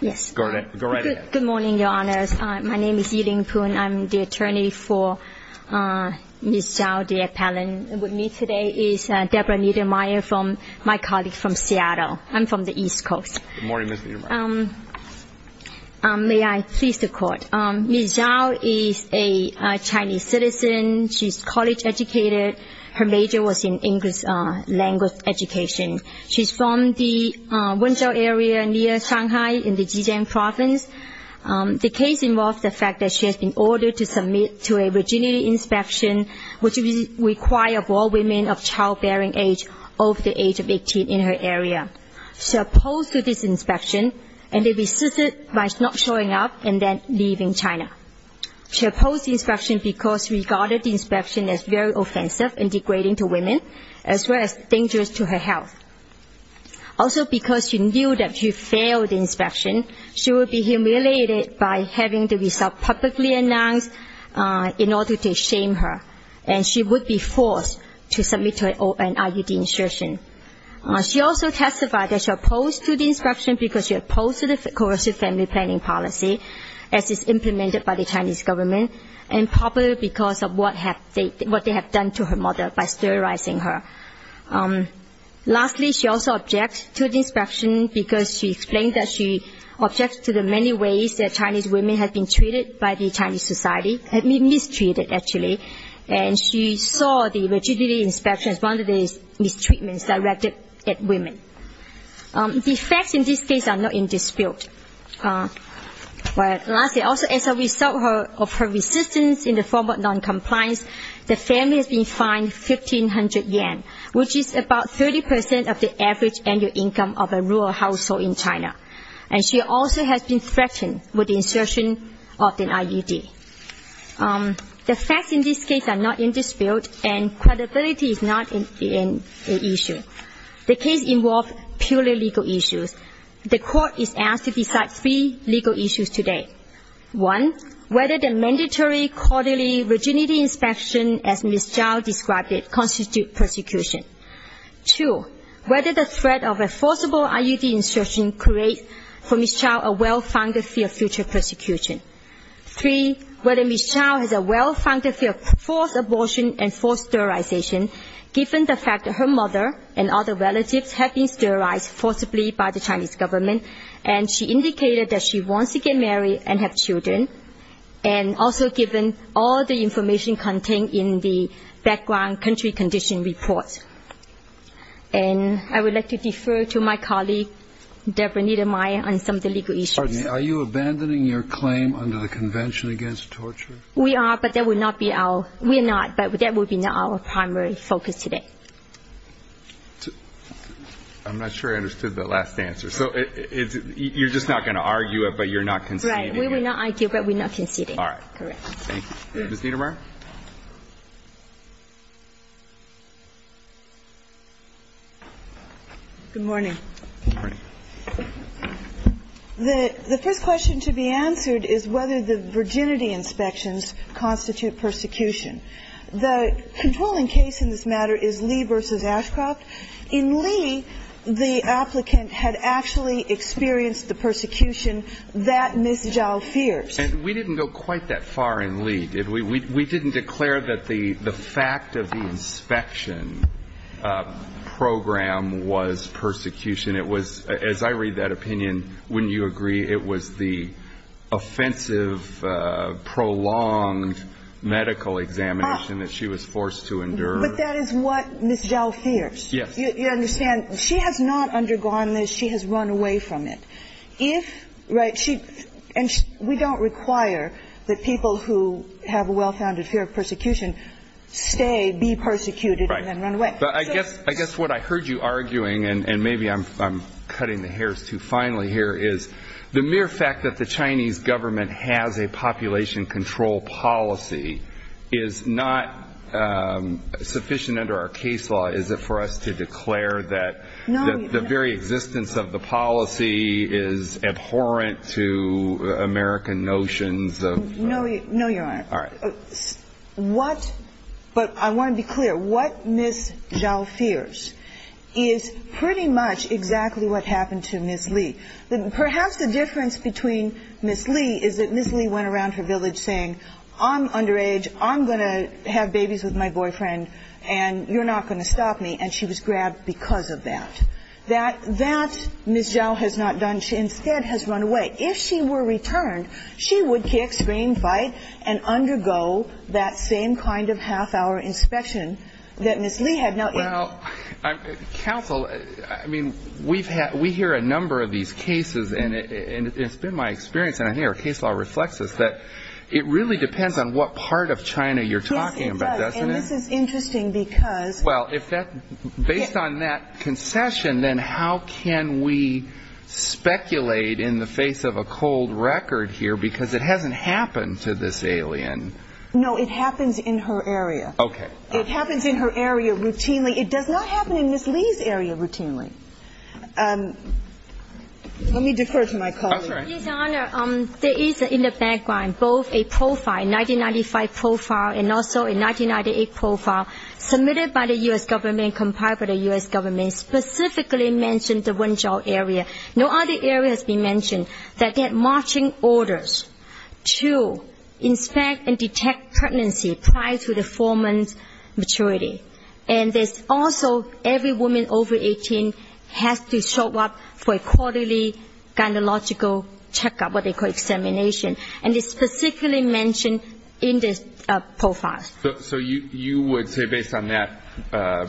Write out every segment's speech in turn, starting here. Yes. Go right ahead. Good morning, Your Honors. My name is Yilin Pun. I'm the attorney for Ms. Zhao, the appellant. With me today is Debra Niedermeyer from my colleague from Seattle. I'm from the East Coast. Good morning, Ms. Niedermeyer. May I please the court? Ms. Zhao is a Chinese citizen. She's college educated. Her major was in English language education. She's from the Wenzhou area near Shanghai in the Zhejiang province. The case involves the fact that she has been ordered to submit to a virginity inspection, which required all women of childbearing age over the age of 18 in her area. She opposed to this inspection, and they resisted by not showing up and then leaving China. She opposed the inspection because she regarded the inspection as very offensive and degrading to women, as well as dangerous to her health. Also, because she knew that she failed the inspection, she would be humiliated by having the result publicly announced in order to shame her. And she would be forced to submit to an IUD inspection. She also testified that she opposed to the inspection because she opposed to the coercive family planning policy, as is implemented by the Chinese government, and probably because of what they have done to her mother by sterilizing her. Lastly, she also objected to the inspection because she explained that she objected to the many ways that Chinese women have been treated by the Chinese society, have been mistreated, actually. And she saw the virginity inspection as one of these mistreatments directed at women. The facts in this case are not in dispute. Lastly, also as a result of her resistance in the form of noncompliance, the family has been fined 1,500 yen, which is about 30% of the average annual income of a rural household in China. And she also has been threatened with the insertion of an IUD. The facts in this case are not in dispute, and credibility is not an issue. The case involved purely legal issues. The court is asked to decide three legal issues today. One, whether the mandatory quarterly virginity inspection as Ms. Chow described it constitute persecution. Two, whether the threat of a forcible IUD insertion creates for Ms. Chow a well-founded fear of future persecution. Three, whether Ms. Chow has a well-founded fear of forced abortion and forced sterilization, given the fact that her mother and other relatives have been sterilized forcibly by the Chinese government, and she indicated that she wants to get married and have children, and also given all the information contained in the background country condition report. And I would like to defer to my colleague, Debra Niedermeyer, on some of the legal issues. Are you abandoning your claim under the Convention Against Torture? We are, but that will not be our primary focus today. I'm not sure I understood the last answer. So you're just not going to argue it, but you're not conceding it? Right, we will not argue it, but we're not conceding it. All right. Correct. Thank you. Ms. Niedermeyer? Good morning. The first question to be answered is whether the virginity inspections constitute persecution. The controlling case in this matter is Lee versus Ashcroft. In Lee, the applicant had actually experienced the persecution that Ms. Chow fears. We didn't go quite that far in Lee, did we? We didn't declare that the fact of the inspection program was persecution. It was, as I read that opinion, wouldn't you agree it was the offensive, prolonged medical examination that she was forced to endure? But that is what Ms. Chow fears. Yes. You understand, she has not undergone this. She has run away from it. If, right, she, and we don't require that people who have a well-founded fear of persecution stay, be persecuted, and then run away. But I guess what I heard you arguing, and maybe I'm cutting the hairs too finely here, is the mere fact that the Chinese government has a population control policy is not sufficient under our case law. Is it for us to declare that the very existence of the policy is abhorrent to American notions of? No, Your Honor. All right. But I want to be clear. What Ms. Chow fears is pretty much exactly what happened to Ms. Lee. Perhaps the difference between Ms. Lee is that Ms. Lee went around her village saying, I'm underage. I'm going to have babies with my boyfriend, and you're not going to stop me. And she was grabbed because of that. That, Ms. Chow has not done. She instead has run away. If she were returned, she would kick, scream, fight, and undergo that same kind of half-hour inspection that Ms. Lee had not. Well, counsel, I mean, we hear a number of these cases. And it's been my experience, and I think our case law reflects this, that it really depends on what part of China you're talking about, doesn't it? Yes, it does. And this is interesting because. Well, based on that concession, then how can we speculate in the face of a cold record here because it hasn't happened to this alien? No, it happens in her area. OK. It happens in her area routinely. It does not happen in Ms. Lee's area routinely. Let me defer to my colleague. All right. Your Honor, there is in the background both a profile, 1995 profile, and also a 1998 profile submitted by the US government, compiled by the US government, specifically mentioned the Wen Zhao area. No other area has been mentioned that get marching orders to inspect and detect pregnancy prior to the foreman's maturity. And there's also every woman over 18 has to show up for a quarterly gynecological checkup, what they call examination. And it's specifically mentioned in this profile. So you would say, based on that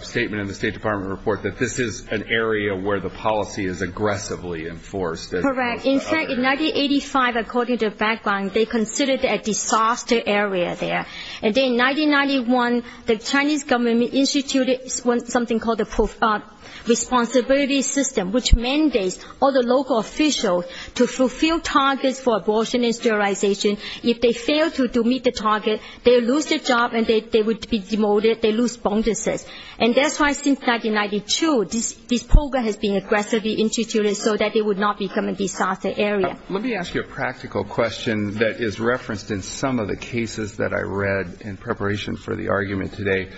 statement in the State Department report, that this is an area where the policy is aggressively enforced as opposed to other areas? Correct. In fact, in 1985, according to the background, they considered it a disaster area there. And then in 1991, the Chinese government instituted something called the Responsibility System, which mandates all the local officials to fulfill targets for abortion and sterilization. If they fail to meet the target, they lose their job, and they would be demoted. They lose bonuses. And that's why, since 1992, this program has been aggressively instituted so that it would not become a disaster area. Let me ask you a practical question that is referenced in some of the cases that I read in preparation for the argument today.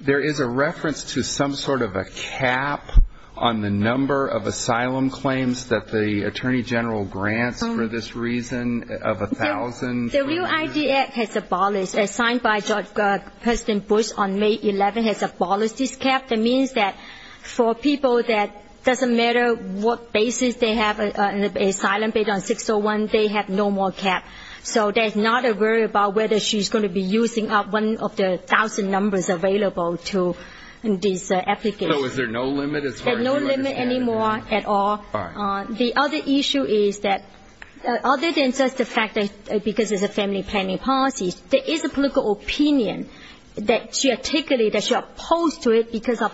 There is a reference to some sort of a cap on the number of asylum claims that the Attorney General grants for this reason of 1,000. The Real ID Act has abolished. As signed by President Bush on May 11, has abolished this cap. That means that for people that doesn't matter what basis they have an asylum, based on 601, they have no more cap. So there's not a worry about whether she's going to be using up one of the 1,000 numbers available to these applicants. So is there no limit as far as you understand? No limit anymore at all. The other issue is that, other than just the fact because it's a family planning policy, there is a political opinion that she articulated that she opposed to it because of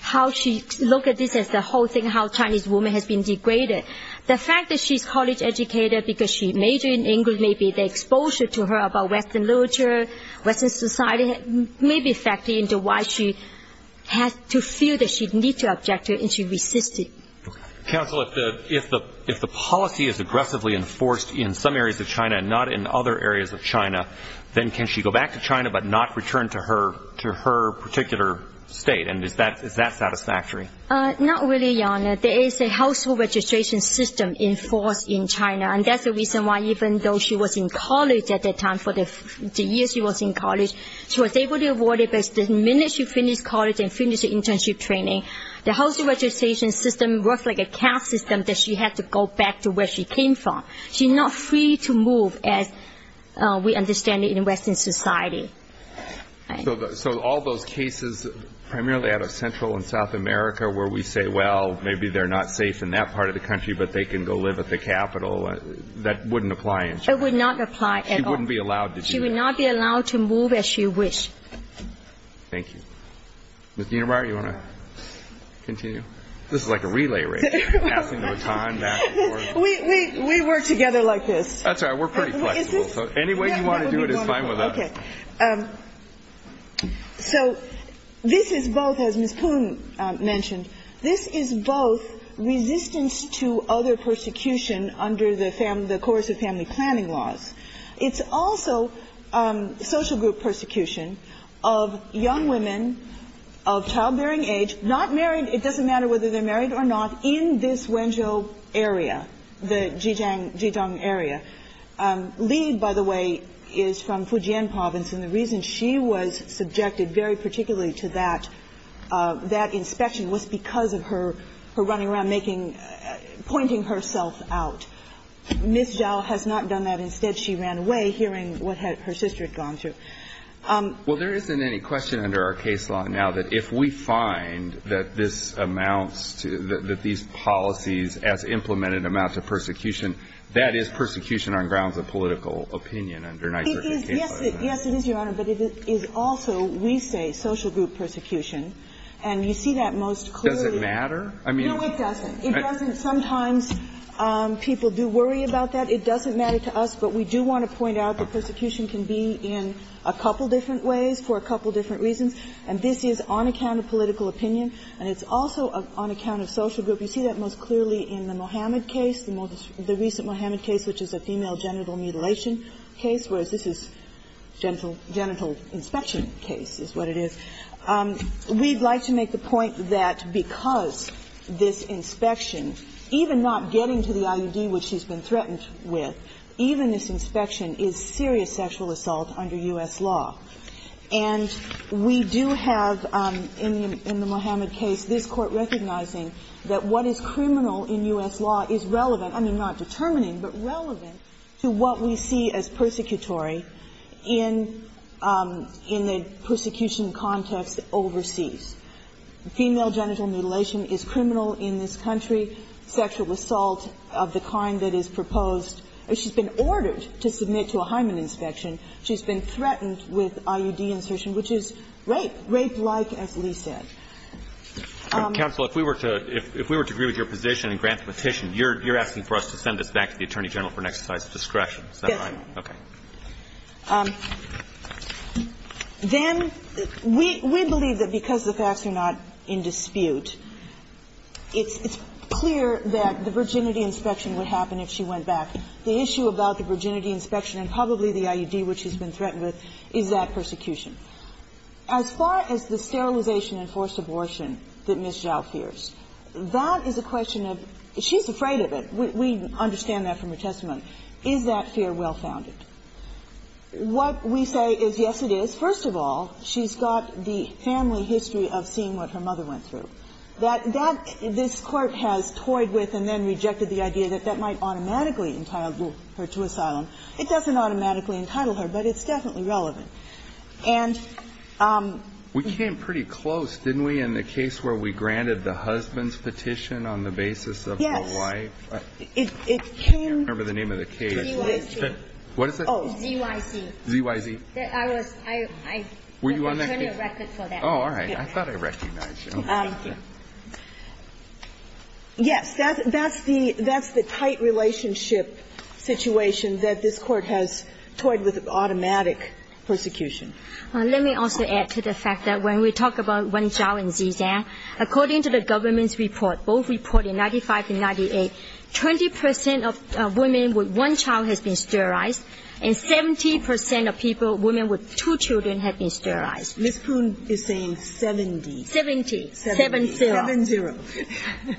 how she looked at this as the whole thing, how Chinese women has been degraded. The fact that she's a college educator because she majored in English, maybe the exposure to her about Western literature, Western society, may be a factor into why she has to feel that she need to object to it, and she resisted. Counsel, if the policy is aggressively enforced in some areas of China and not in other areas of China, then can she go back to China but not return to her particular state? And is that satisfactory? Not really, Your Honor. There is a household registration system enforced in China. And that's the reason why even though she was in college at that time, for the years she was in college, she was able to avoid it. But the minute she finished college and finished the internship training, the household registration system worked like a cash system that she had to go back to where she came from. She's not free to move as we understand it in Western society. So all those cases, primarily out of Central and South America, where we say, well, maybe they're not safe in that part of the country, but they can go live at the capital, that wouldn't apply in China? It would not apply at all. She wouldn't be allowed to do that? She would not be allowed to move as she wished. Thank you. Ms. Dienerbauer, you want to continue? This is like a relay race, passing the baton back and forth. We work together like this. That's all right. We're pretty flexible. Any way you want to do it is fine with us. So this is both, as Ms. Poon mentioned, this is both resistance to other persecution under the coercive family planning laws. It's also social group persecution of young women of childbearing age, not married, it doesn't matter whether they're married or not, in this Wenzhou area, the Zhejiang area. Li, by the way, is from Fujian province. And the reason she was subjected very particularly to that inspection was because of her running around pointing herself out. Ms. Zhao has not done that. Instead, she ran away hearing what her sister had gone through. Well, there isn't any question under our case law now that if we find that this amounts to, that these policies as implemented amount to persecution, that is persecution on grounds of political opinion under NYSERDA's case law. Yes, it is, Your Honor. But it is also, we say, social group persecution. And you see that most clearly. Does it matter? I mean, it doesn't. Sometimes people do worry about that. It doesn't matter to us. But we do want to point out that persecution can be in a couple different ways for a couple different reasons. And this is on account of political opinion. And it's also on account of social group. You see that most clearly in the Mohamed case, the most recent Mohamed case, which is a female genital mutilation case, whereas this is genital inspection case is what it is. We'd like to make the point that because this inspection, even not getting to the IUD, which she's been threatened with, even this inspection is serious sexual assault under U.S. law. And we do have in the Mohamed case this Court recognizing that what is criminal in U.S. law is relevant, I mean, not determining, but relevant to what we see as persecutory in the persecution context overseas. Female genital mutilation is criminal in this country. Sexual assault of the kind that is proposed, she's been ordered to submit to a hymen inspection. She's been threatened with IUD insertion, which is rape, rape-like, as Lee said. Roberts, if we were to agree with your position and grant the petition, you're asking for us to send this back to the Attorney General for an exercise of discretion, is that right? Yes. Okay. Then we believe that because the facts are not in dispute, it's clear that the virginity inspection would happen if she went back. The issue about the virginity inspection and probably the IUD which she's been threatened with is that persecution. As far as the sterilization and forced abortion that Ms. Zhao fears, that is a question of, she's afraid of it. We understand that from her testimony. Is that fear well-founded? What we say is, yes, it is. First of all, she's got the family history of seeing what her mother went through. That that this Court has toyed with and then rejected the idea that that might automatically entitle her to asylum. It doesn't automatically entitle her, but it's definitely relevant. And we came pretty close, didn't we, in the case where we granted the husband's petition on the basis of her wife? Yes. It came by the name of the case. ZYC. What is that? ZYC. ZYC. I was the attorney record for that. Oh, all right. I thought I recognized you. Yes, that's the tight relationship situation that this Court has toyed with automatic persecution. Let me also add to the fact that when we talk about Wen Zhao and Zizan, according to the government's report, both reporting 95 and 98, 20 percent of women with one child has been sterilized and 70 percent of people, women with two children, have been sterilized. Ms. Poon is saying 70. 70, 7-0. 7-0.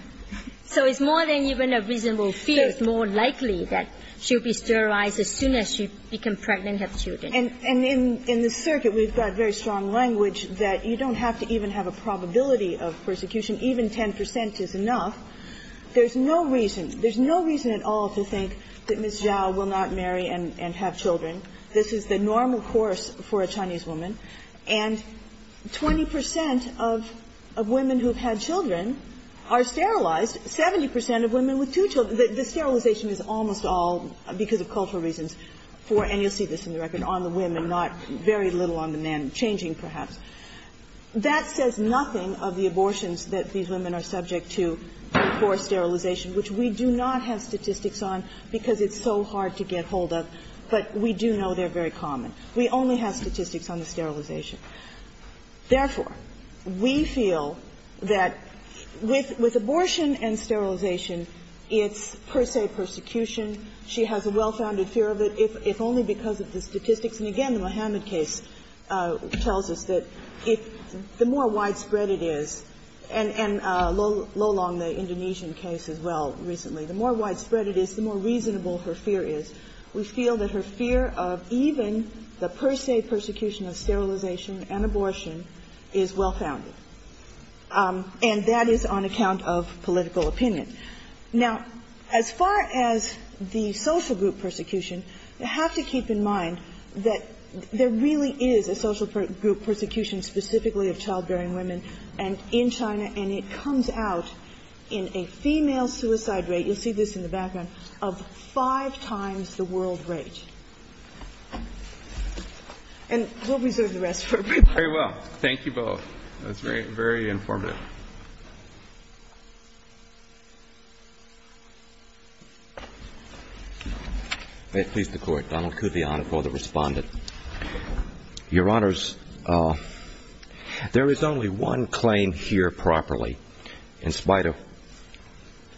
So it's more than even a reasonable fear. It's more likely that she'll be sterilized as soon as she becomes pregnant and has children. And in the circuit, we've got very strong language that you don't have to even have a probability of persecution. Even 10 percent is enough. There's no reason. There's no reason at all to think that Ms. Zhao will not marry and have children. This is the normal course for a Chinese woman. And 20 percent of women who have had children are sterilized. 70 percent of women with two children. The sterilization is almost all, because of cultural reasons, for and you'll see this in the record, on the women, not very little on the men, changing perhaps. That says nothing of the abortions that these women are subject to for sterilization, which we do not have statistics on because it's so hard to get hold of. But we do know they're very common. We only have statistics on the sterilization. Therefore, we feel that with abortion and sterilization, it's per se persecution. She has a well-founded fear of it, if only because of the statistics. And again, the Muhammad case tells us that the more widespread it is, and Lo Long, the Indonesian case as well, recently, the more widespread it is, the more reasonable her fear is. We feel that her fear of even the per se persecution of sterilization and abortion is well-founded. And that is on account of political opinion. Now, as far as the social group persecution, you have to keep in mind that there really is a social group persecution specifically of childbearing women in China, and it comes out in a female suicide rate. You'll see this in the background, of five times the world rate. And we'll reserve the rest for everybody. Very well. Thank you both. That's very, very informative. May it please the Court. Donald Coo, the Honorable, the Respondent. Your Honors, there is only one claim here properly, in spite of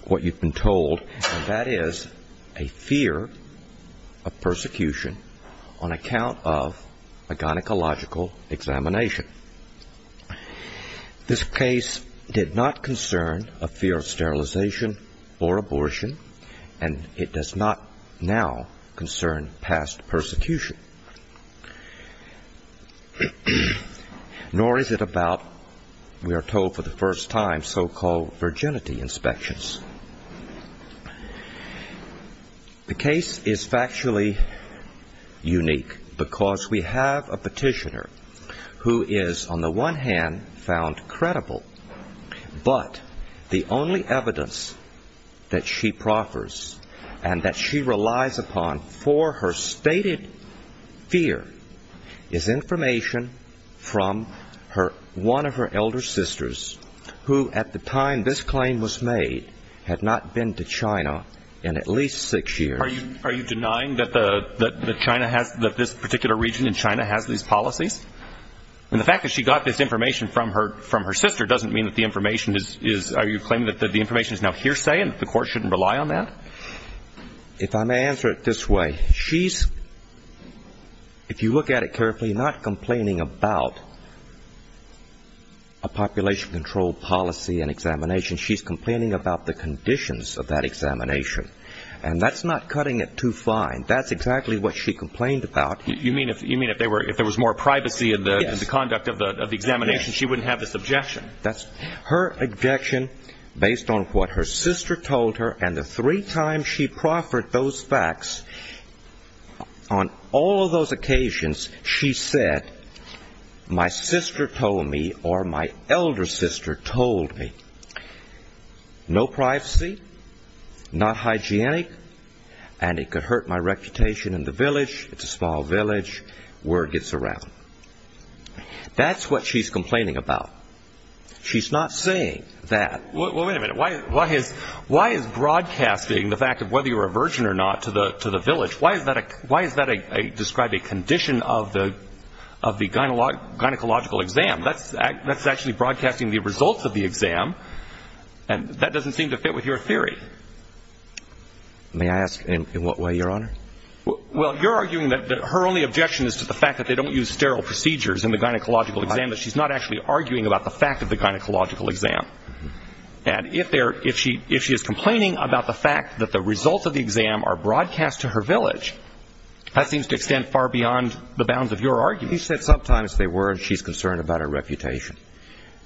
what you've been told, and that is a fear of persecution on account of a gynecological examination. This case did not concern a fear of sterilization or abortion, and it does not now concern past persecution. Nor is it about, we are told for the first time, so-called virginity inspections. The case is factually unique because we have a petitioner who is, on the one hand, found credible, but the only evidence that she proffers and that she relies upon for her stated fear is information from one of her elder sisters, who at the time this claim was made, had not been to China in at least six years. Are you denying that this particular region in China has these policies? And the fact that she got this information from her sister doesn't mean that the information is, are you claiming that the information is now hearsay and that the Court shouldn't rely on that? If I may answer it this way. She's, if you look at it carefully, not complaining about a population control policy and examination. She's complaining about the conditions of that examination. And that's not cutting it too fine. That's exactly what she complained about. You mean if there was more privacy in the conduct of the examination, she wouldn't have this objection? That's her objection based on what her sister told her. And the three times she proffered those facts, on all of those occasions she said, my sister told me or my elder sister told me, no privacy, not hygienic, and it could hurt my reputation in the village. It's a small village. Word gets around. That's what she's complaining about. She's not saying that. Well, wait a minute. Why is broadcasting the fact of whether you're a virgin or not to the village, why is that described a condition of the gynecological exam? That's actually broadcasting the results of the exam. And that doesn't seem to fit with your theory. May I ask in what way, Your Honor? Well, you're arguing that her only objection is to the fact that they don't use sterile procedures in the gynecological exam, that she's not actually arguing about the fact of the gynecological exam. And if she is complaining about the fact that the results of the exam are broadcast to her village, that seems to extend far beyond the bounds of your argument. You said sometimes they were, and she's concerned about her reputation.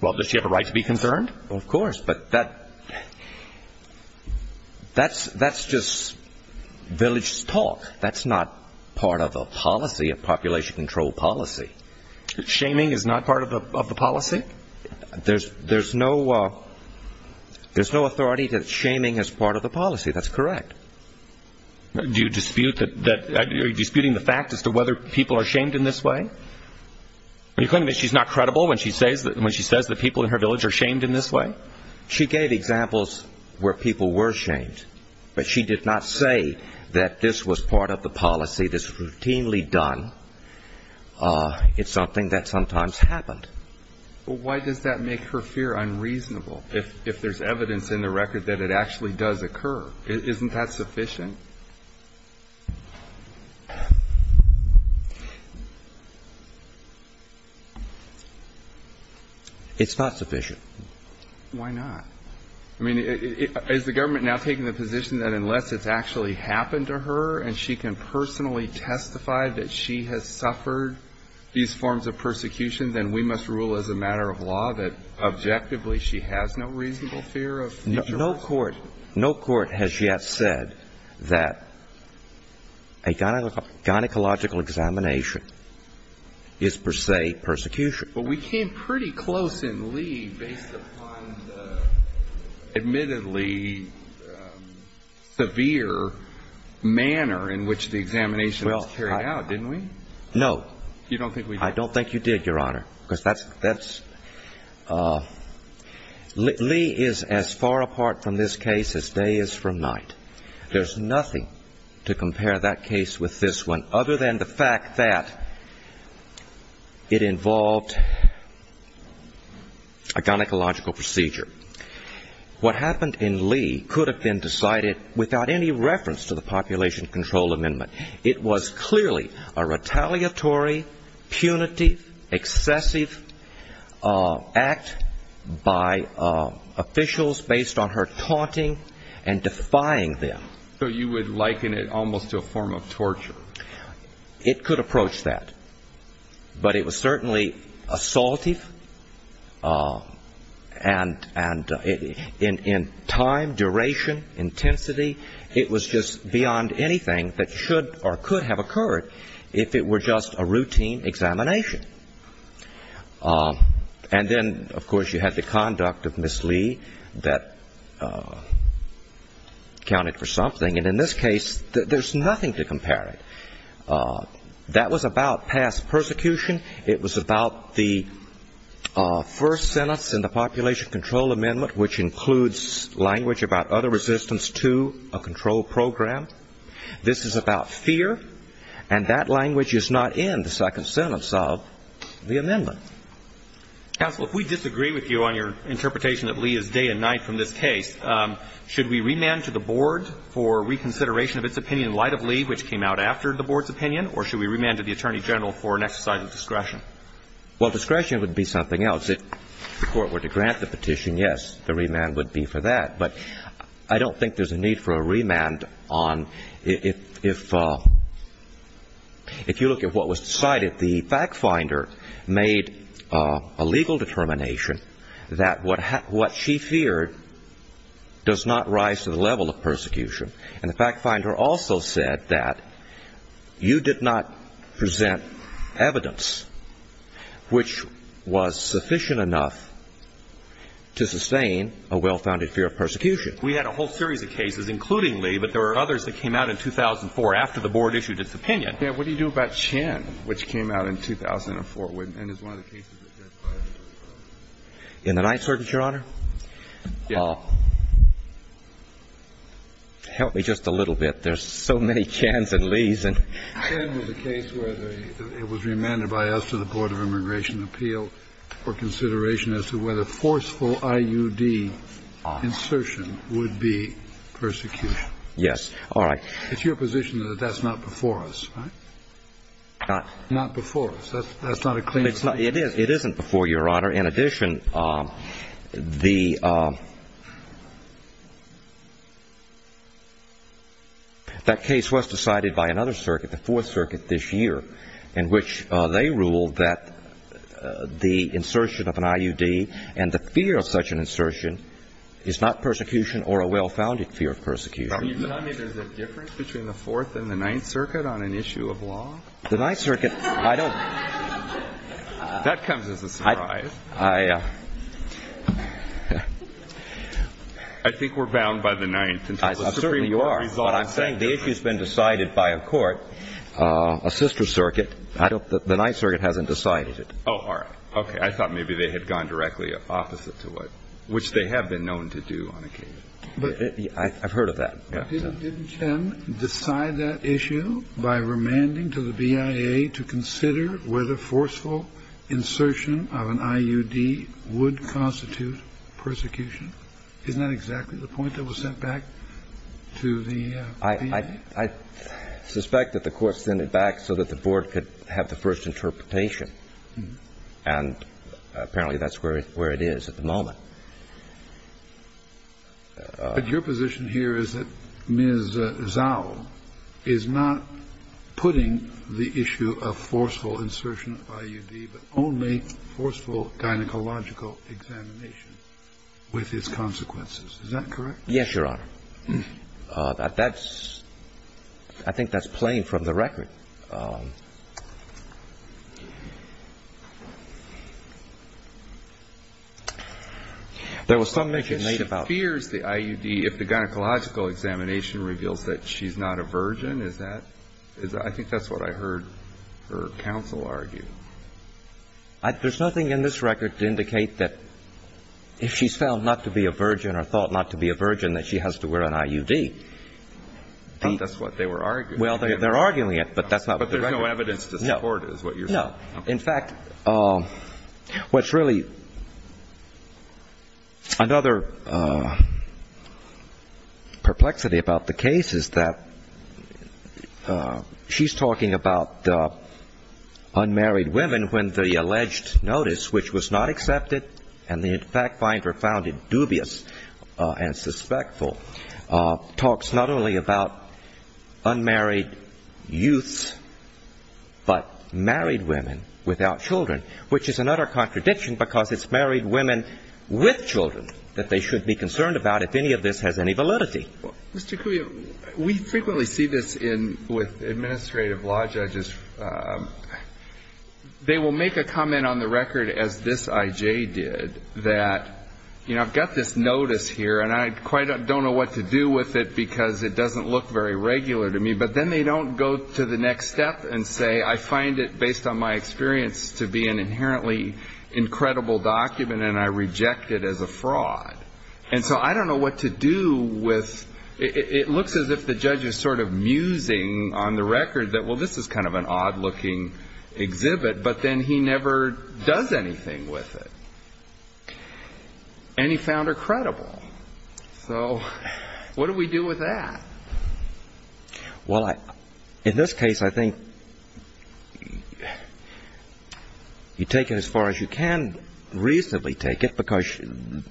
Well, does she have a right to be concerned? Well, of course. But that's just village talk. That's not part of a policy, a population control policy. Shaming is not part of the policy? There's no authority to shaming as part of the policy. That's correct. Are you disputing the fact as to whether people are shamed in this way? Are you claiming that she's not credible when she says that people in her village are shamed in this way? She gave examples where people were shamed. But she did not say that this was part of the policy, this was routinely done. It's something that sometimes happened. But why does that make her fear unreasonable, if there's evidence in the record that it actually does occur? Isn't that sufficient? It's not sufficient. Why not? I mean, is the government now taking the position that unless it's actually happened to her and she can personally testify that she has suffered these forms of persecution, then we must rule as a matter of law that objectively she has no reasonable fear of mutual assault? No court has yet said that a gynecological examination is per se persecution. But we came pretty close in Lee based upon the admittedly severe manner in which the examination was carried out, didn't we? No. You don't think we did? I don't think you did, Your Honor. Lee is as far apart from this case as day is from night. There's nothing to compare that case with this one other than the fact that it involved a gynecological procedure. What happened in Lee could have been decided without any reference to the Population Control Amendment. It was clearly a retaliatory, punitive, excessive act by officials based on her taunting and defying them. So you would liken it almost to a form of torture? It could approach that. But it was certainly assaultive, and in time, duration, intensity, it was just beyond anything that should or could have occurred if it were just a routine examination. And then, of course, you had the conduct of Miss Lee that counted for something. And in this case, there's nothing to compare it. That was about past persecution. It was about the first sentence in the Population Control Amendment, which includes language about other resistance to a control program. This is about fear. And that language is not in the second sentence of the amendment. Counsel, if we disagree with you on your interpretation that Lee is day and night from this case, should we remand to the Board for reconsideration of its opinion in light of Lee, which came out after the Board's opinion, or should we remand to the Attorney General for an exercise of discretion? Well, discretion would be something else. If the Court were to grant the petition, yes, the remand would be for that. But I don't think there's a need for a remand on if you look at what was decided. The fact finder made a legal determination that what she feared does not rise to the level of persecution. And the fact finder also said that you did not present evidence which was sufficient enough to sustain a well-founded fear of persecution. We had a whole series of cases, including Lee, but there were others that came out in 2004 after the Board issued its opinion. Yeah, what do you do about Chen, which came out in 2004 and is one of the cases that's been filed? In the Ninth Circuit, Your Honor? Yeah. Help me just a little bit. There's so many Chans and Lees. Chen was a case where it was remanded by us to the Board of Immigration Appeal for consideration as to whether forceful IUD insertion would be persecution. Yes. All right. It's your position that that's not before us, right? Not before us. That's not a clean statement. It is. It isn't before you, Your Honor. In addition, that case was decided by another circuit, the Fourth Circuit, this year, in which they ruled that the insertion of an IUD and the fear of such an insertion is not persecution or a well-founded fear of persecution. So you're telling me there's a difference between the Fourth and the Ninth Circuit on an issue of law? The Ninth Circuit, I don't know. That comes as a surprise. I think we're bound by the Ninth. Certainly you are. But I'm saying the issue's been decided by a court, a sister circuit. The Ninth Circuit hasn't decided it. Oh, all right. Okay. I thought maybe they had gone directly opposite to it, which they have been known to do on occasion. I've heard of that. Didn't Jen decide that issue by remanding to the BIA to consider whether forceful insertion of an IUD would constitute persecution? Isn't that exactly the point that was sent back to the BIA? I suspect that the Court sent it back so that the Board could have the first interpretation, and apparently that's where it is at the moment. But your position here is that Ms. Zhao is not putting the issue of forceful insertion of IUD, but only forceful gynecological examination with its consequences. Is that correct? Yes, Your Honor. I think that's plain from the record. There was some mention made about fears the IUD, if the gynecological examination reveals that she's not a virgin, is that? I think that's what I heard her counsel argue. There's nothing in this record to indicate that if she's found not to be a virgin or thought not to be a virgin, that she has to wear an IUD. I thought that's what they were arguing. But there's no evidence to support it is what you're saying. No. In fact, what's really another perplexity about the case is that she's talking about unmarried women when the alleged notice, which was not accepted and the fact finder found it dubious and suspectful, talks not only about unmarried youths, but married women without children, which is another contradiction because it's married women with children that they should be concerned about if any of this has any validity. Mr. Cuio, we frequently see this with administrative law judges. They will make a comment on the record, as this I.J. did, that, you know, I've got this notice here, and I quite don't know what to do with it because it doesn't look very regular to me. But then they don't go to the next step and say, I find it, based on my experience, to be an inherently incredible document, and I reject it as a fraud. And so I don't know what to do with it. It looks as if the judge is sort of musing on the record that, well, this is kind of an odd-looking exhibit, but then he never does anything with it, and he found her credible. So what do we do with that? Well, in this case, I think you take it as far as you can reasonably take it because if I find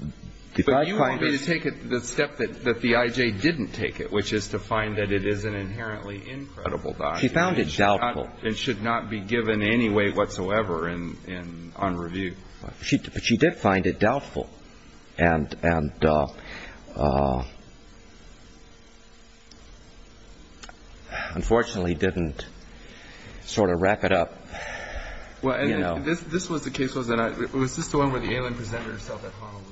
it ---- But you want me to take it the step that the I.J. didn't take it, which is to find that it is an inherently incredible document. She found it doubtful. It should not be given any weight whatsoever on review. But she did find it doubtful and unfortunately didn't sort of wrap it up. Well, this was the case, wasn't it? Was this the one where the alien presented herself at Honolulu?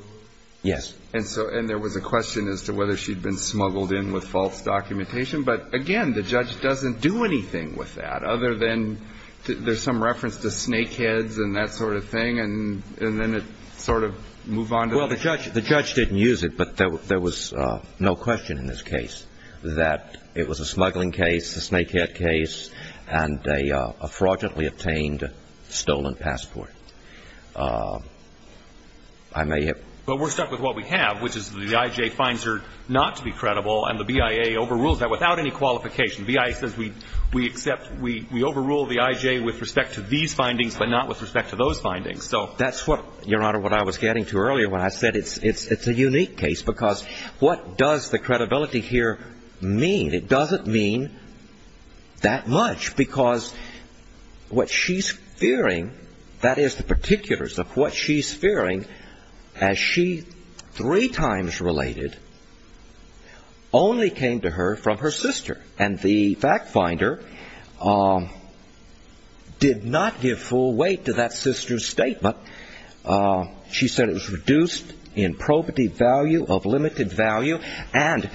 Yes. And there was a question as to whether she'd been smuggled in with false documentation. But, again, the judge doesn't do anything with that other than there's some reference to snake heads and that sort of thing, and then it sort of moved on to the ---- Well, the judge didn't use it, but there was no question in this case that it was a smuggling case, a snake head case, and a fraudulently obtained stolen passport. I may have ---- But we're stuck with what we have, which is the I.J. finds her not to be credible, and the BIA overrules that without any qualification. The BIA says we accept, we overrule the I.J. with respect to these findings but not with respect to those findings. So that's what, Your Honor, what I was getting to earlier when I said it's a unique case because what does the credibility here mean? It doesn't mean that much because what she's fearing, that is the particulars of what she's fearing, as she three times related, only came to her from her sister. And the fact finder did not give full weight to that sister's statement. She said it was reduced in probity value, of limited value, and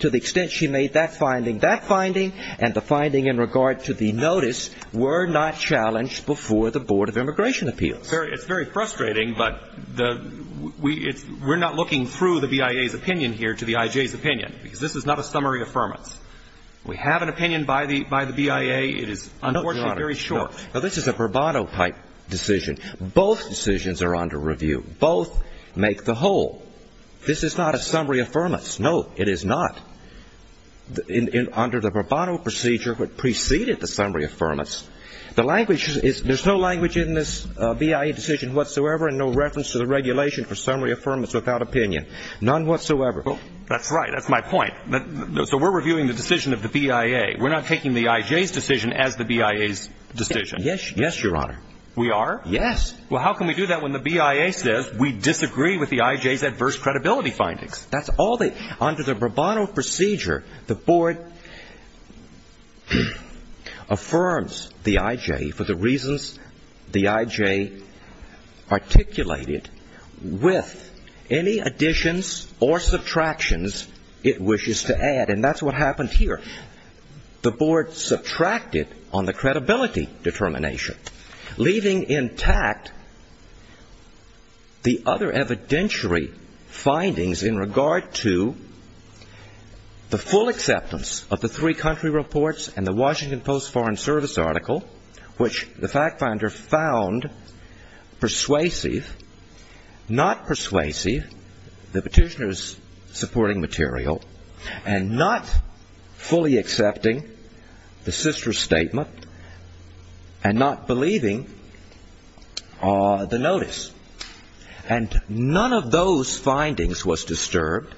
to the extent she made that finding, that finding and the finding in regard to the notice were not challenged before the Board of Immigration Appeals. It's very frustrating, but we're not looking through the BIA's opinion here to the I.J.'s opinion because this is not a summary affirmance. We have an opinion by the BIA. It is, unfortunately, very short. No, Your Honor. No, this is a bravado type decision. Both decisions are under review. Both make the whole. This is not a summary affirmance. No, it is not. Under the bravado procedure, what preceded the summary affirmance, there's no language in this BIA decision whatsoever and no reference to the regulation for summary affirmance without opinion. None whatsoever. That's right. That's my point. So we're reviewing the decision of the BIA. We're not taking the I.J.'s decision as the BIA's decision. Yes, Your Honor. We are? Yes. Well, how can we do that when the BIA says we disagree with the I.J.'s adverse credibility findings? Under the bravado procedure, the board affirms the I.J. for the reasons the I.J. articulated with any additions or subtractions it wishes to add, and that's what happened here. The board subtracted on the credibility determination, leaving intact the other evidentiary findings in regard to the full acceptance of the three country reports and the Washington Post Foreign Service article, which the fact finder found persuasive, not persuasive, the petitioner's supporting material, and not fully accepting the sister statement and not believing the notice. And none of those findings was disturbed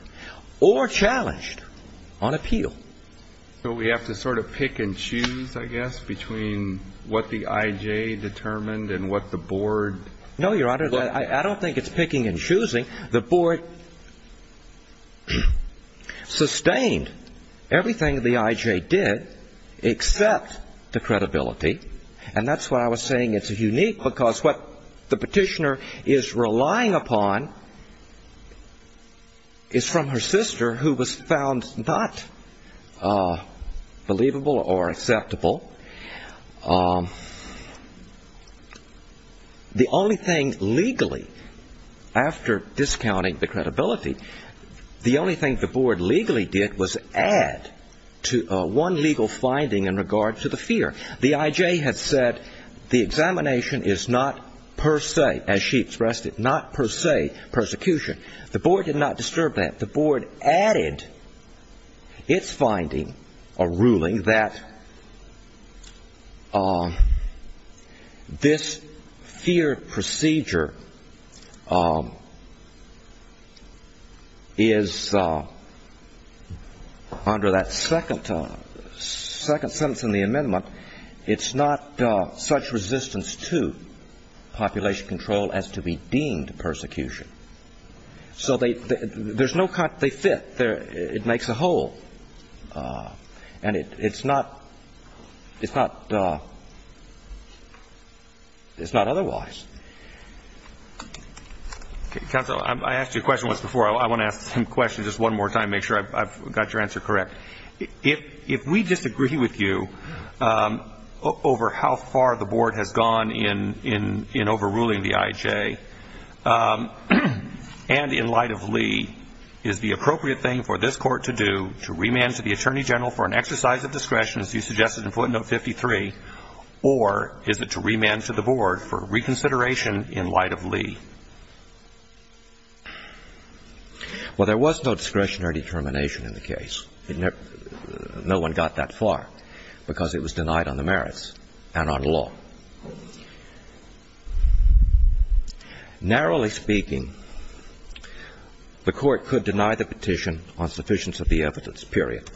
or challenged on appeal. So we have to sort of pick and choose, I guess, between what the I.J. determined and what the board? No, Your Honor. The board sustained everything the I.J. did, except the credibility, and that's why I was saying it's unique, because what the petitioner is relying upon is from her sister, who was found not believable or acceptable. The only thing legally, after discounting the credibility, the only thing the board legally did was add one legal finding in regard to the fear. The I.J. had said the examination is not per se, as she expressed it, not per se persecution. The board did not disturb that. The board added its finding or ruling that this fear procedure is, under that second sentence in the amendment, it's not such resistance to population control as to be deemed persecution. So they fit. It makes a hole, and it's not otherwise. Counsel, I asked you a question once before. I want to ask the same question just one more time to make sure I've got your answer correct. If we disagree with you over how far the board has gone in overruling the I.J., and in light of Lee, is the appropriate thing for this court to do to remand to the attorney general for an exercise of discretion, as you suggested in footnote 53, or is it to remand to the board for reconsideration in light of Lee? Well, there was no discretion or determination in the case. No one got that far, because it was denied on the merits and on law. Narrowly speaking, the court could deny the petition on sufficiency of the evidence, period.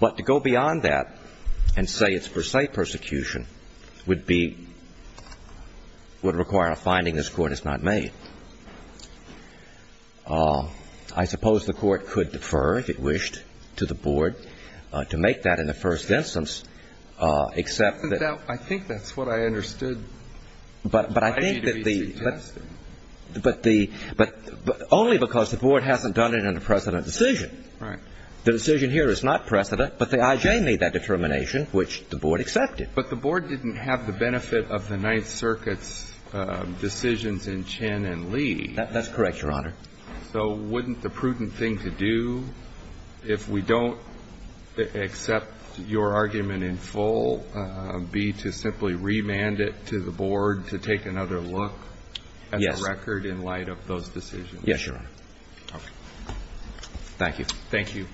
But to go beyond that and say it's per se persecution would be ñ would require a finding this court has not made. I suppose the court could defer, if it wished, to the board to make that in the first instance, except that ñ I think that's what I understood. But I think that the ñ I need to be suggested. But the ñ but only because the board hasn't done it in a precedent decision. Right. The decision here is not precedent, but the I.J. made that determination, which the board accepted. But the board didn't have the benefit of the Ninth Circuit's decisions in Chen and Lee. That's correct, Your Honor. So wouldn't the prudent thing to do, if we don't accept your argument in full, be to simply remand it to the board to take another look as a record in light of those decisions? Yes, Your Honor. Okay. Thank you. Thank you.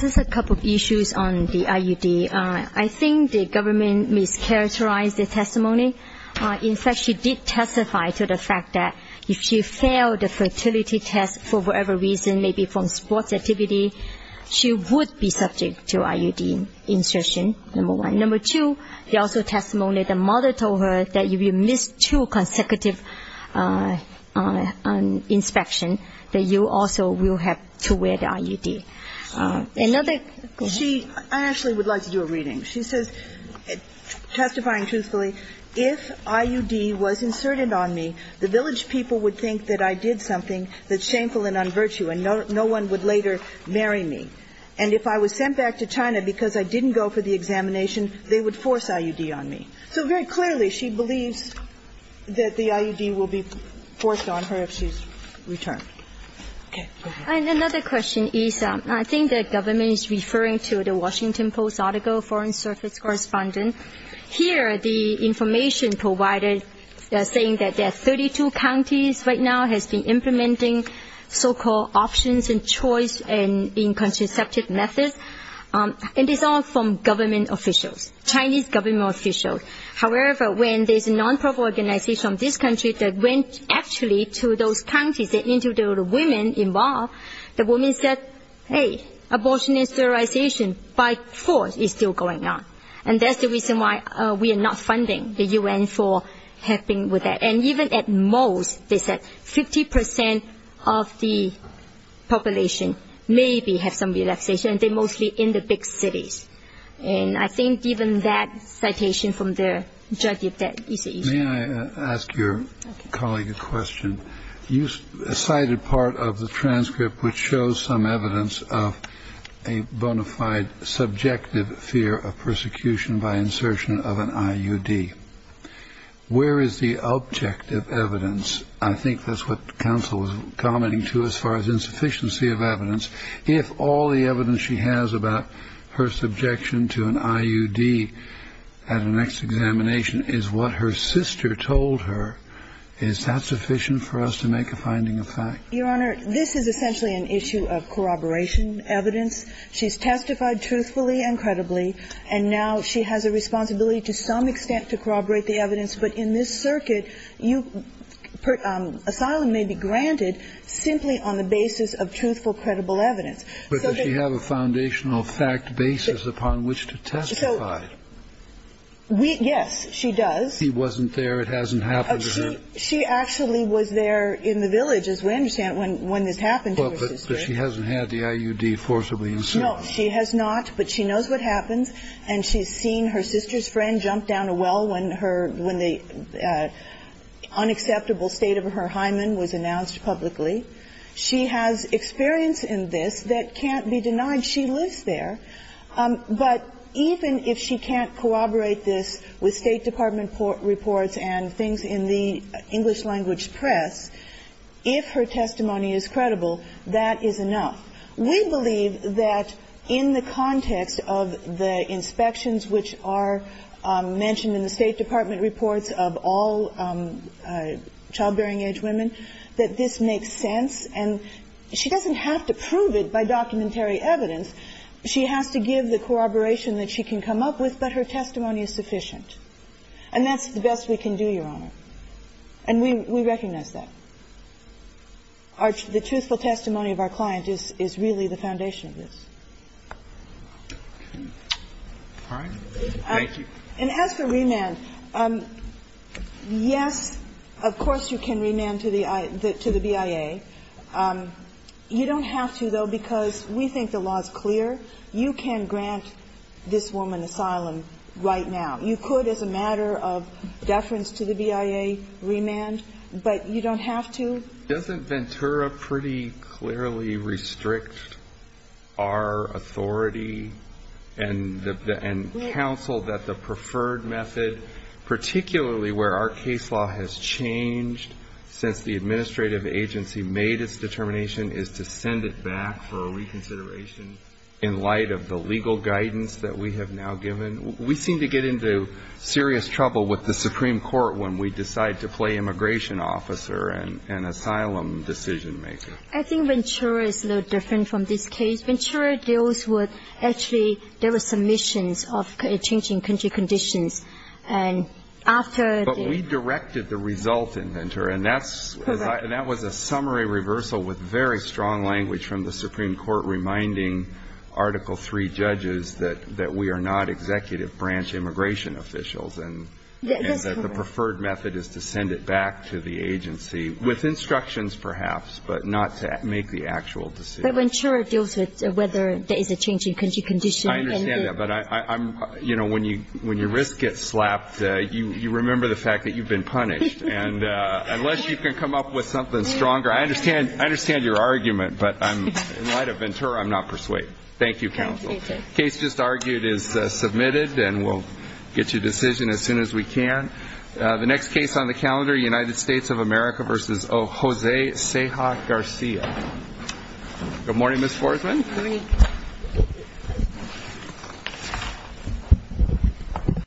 Just a couple of issues on the IUD. I think the government mischaracterized the testimony. In fact, she did testify to the fact that if she failed the fertility test for whatever reason, maybe from sports activity, she would be subject to IUD instruction, number one. Number two, the also testimony the mother told her that if you miss two consecutive inspection, that you also will have to wear the IUD. Another ñ go ahead. She ñ I actually would like to do a reading. She says, testifying truthfully, if IUD was inserted on me, the village people would think that I did something that's shameful and unvirtue, and no one would later marry me. And if I was sent back to China because I didn't go for the examination, they would force IUD on me. So very clearly, she believes that the IUD will be forced on her if she's returned. Okay. Go ahead. And another question is, I think the government is referring to the Washington Post article, Foreign Service Correspondent. Here, the information provided is saying that there are 32 counties right now has been implementing so-called options and choice in contraceptive methods. And it's all from government officials, Chinese government officials. However, when there's a non-profit organization in this country that went actually to those counties and interviewed the women involved, the women said, hey, abortion and sterilization by force is still going on. And that's the reason why we are not funding the U.N. for helping with that. And even at most, they said, 50 percent of the population maybe have some relaxation, and they're mostly in the big cities. And I think even that citation from the judge, if that is the issue. May I ask your colleague a question? You cited part of the transcript which shows some evidence of a bona fide subjective fear of persecution by insertion of an IUD. Where is the objective evidence? I think that's what counsel was commenting to as far as insufficiency of evidence. If all the evidence she has about her subjection to an IUD at a next examination is what her sister told her, is that sufficient for us to make a finding of fact? Your Honor, this is essentially an issue of corroboration evidence. She's testified truthfully and credibly, and now she has a responsibility to some extent to corroborate the evidence. But in this circuit, asylum may be granted simply on the basis of truthful, credible evidence. But does she have a foundational fact basis upon which to testify? Yes, she does. She wasn't there. It hasn't happened to her. She actually was there in the village, as we understand, when this happened to her sister. But she hasn't had the IUD forcibly inserted. No, she has not. But she knows what happens. And she's seen her sister's friend jump down a well when her unacceptable state of her hymen was announced publicly. She has experience in this that can't be denied. She lives there. But even if she can't corroborate this with State Department reports and things in the English language press, if her testimony is credible, that is enough. We believe that in the context of the inspections which are mentioned in the State Department reports of all childbearing-age women, that this makes sense. And she doesn't have to prove it by documentary evidence. She has to give the corroboration that she can come up with, but her testimony is sufficient. And that's the best we can do, Your Honor. And we recognize that. The truthful testimony of our client is really the foundation of this. All right. Thank you. And as for remand, yes, of course you can remand to the BIA. You don't have to, though, because we think the law is clear. You can grant this woman asylum right now. You could as a matter of deference to the BIA remand, but you don't have to. Doesn't Ventura pretty clearly restrict our authority and counsel that the preferred method, particularly where our case law has changed since the administrative agency made its determination, is to send it back for reconsideration in light of the legal guidance that we have now given? We seem to get into serious trouble with the Supreme Court when we decide to play immigration officer and asylum decision-maker. I think Ventura is a little different from this case. Ventura deals with actually there were submissions of changing country conditions. And after the — But we directed the result in Ventura. Correct. And that was a summary reversal with very strong language from the Supreme Court reminding Article III judges that we are not executive branch immigration officials and that the preferred method is to send it back to the agency with instructions, perhaps, but not to make the actual decision. But Ventura deals with whether there is a changing country condition. I understand that. But I'm — you know, when your wrist gets slapped, you remember the fact that you've been punished. And unless you can come up with something stronger — I understand your argument, but in light of Ventura, I'm not persuaded. Thank you, counsel. Thank you. The case just argued is submitted, and we'll get you a decision as soon as we can. The next case on the calendar, United States of America v. Jose Ceja Garcia. Good morning, Ms. Forsman. Good morning.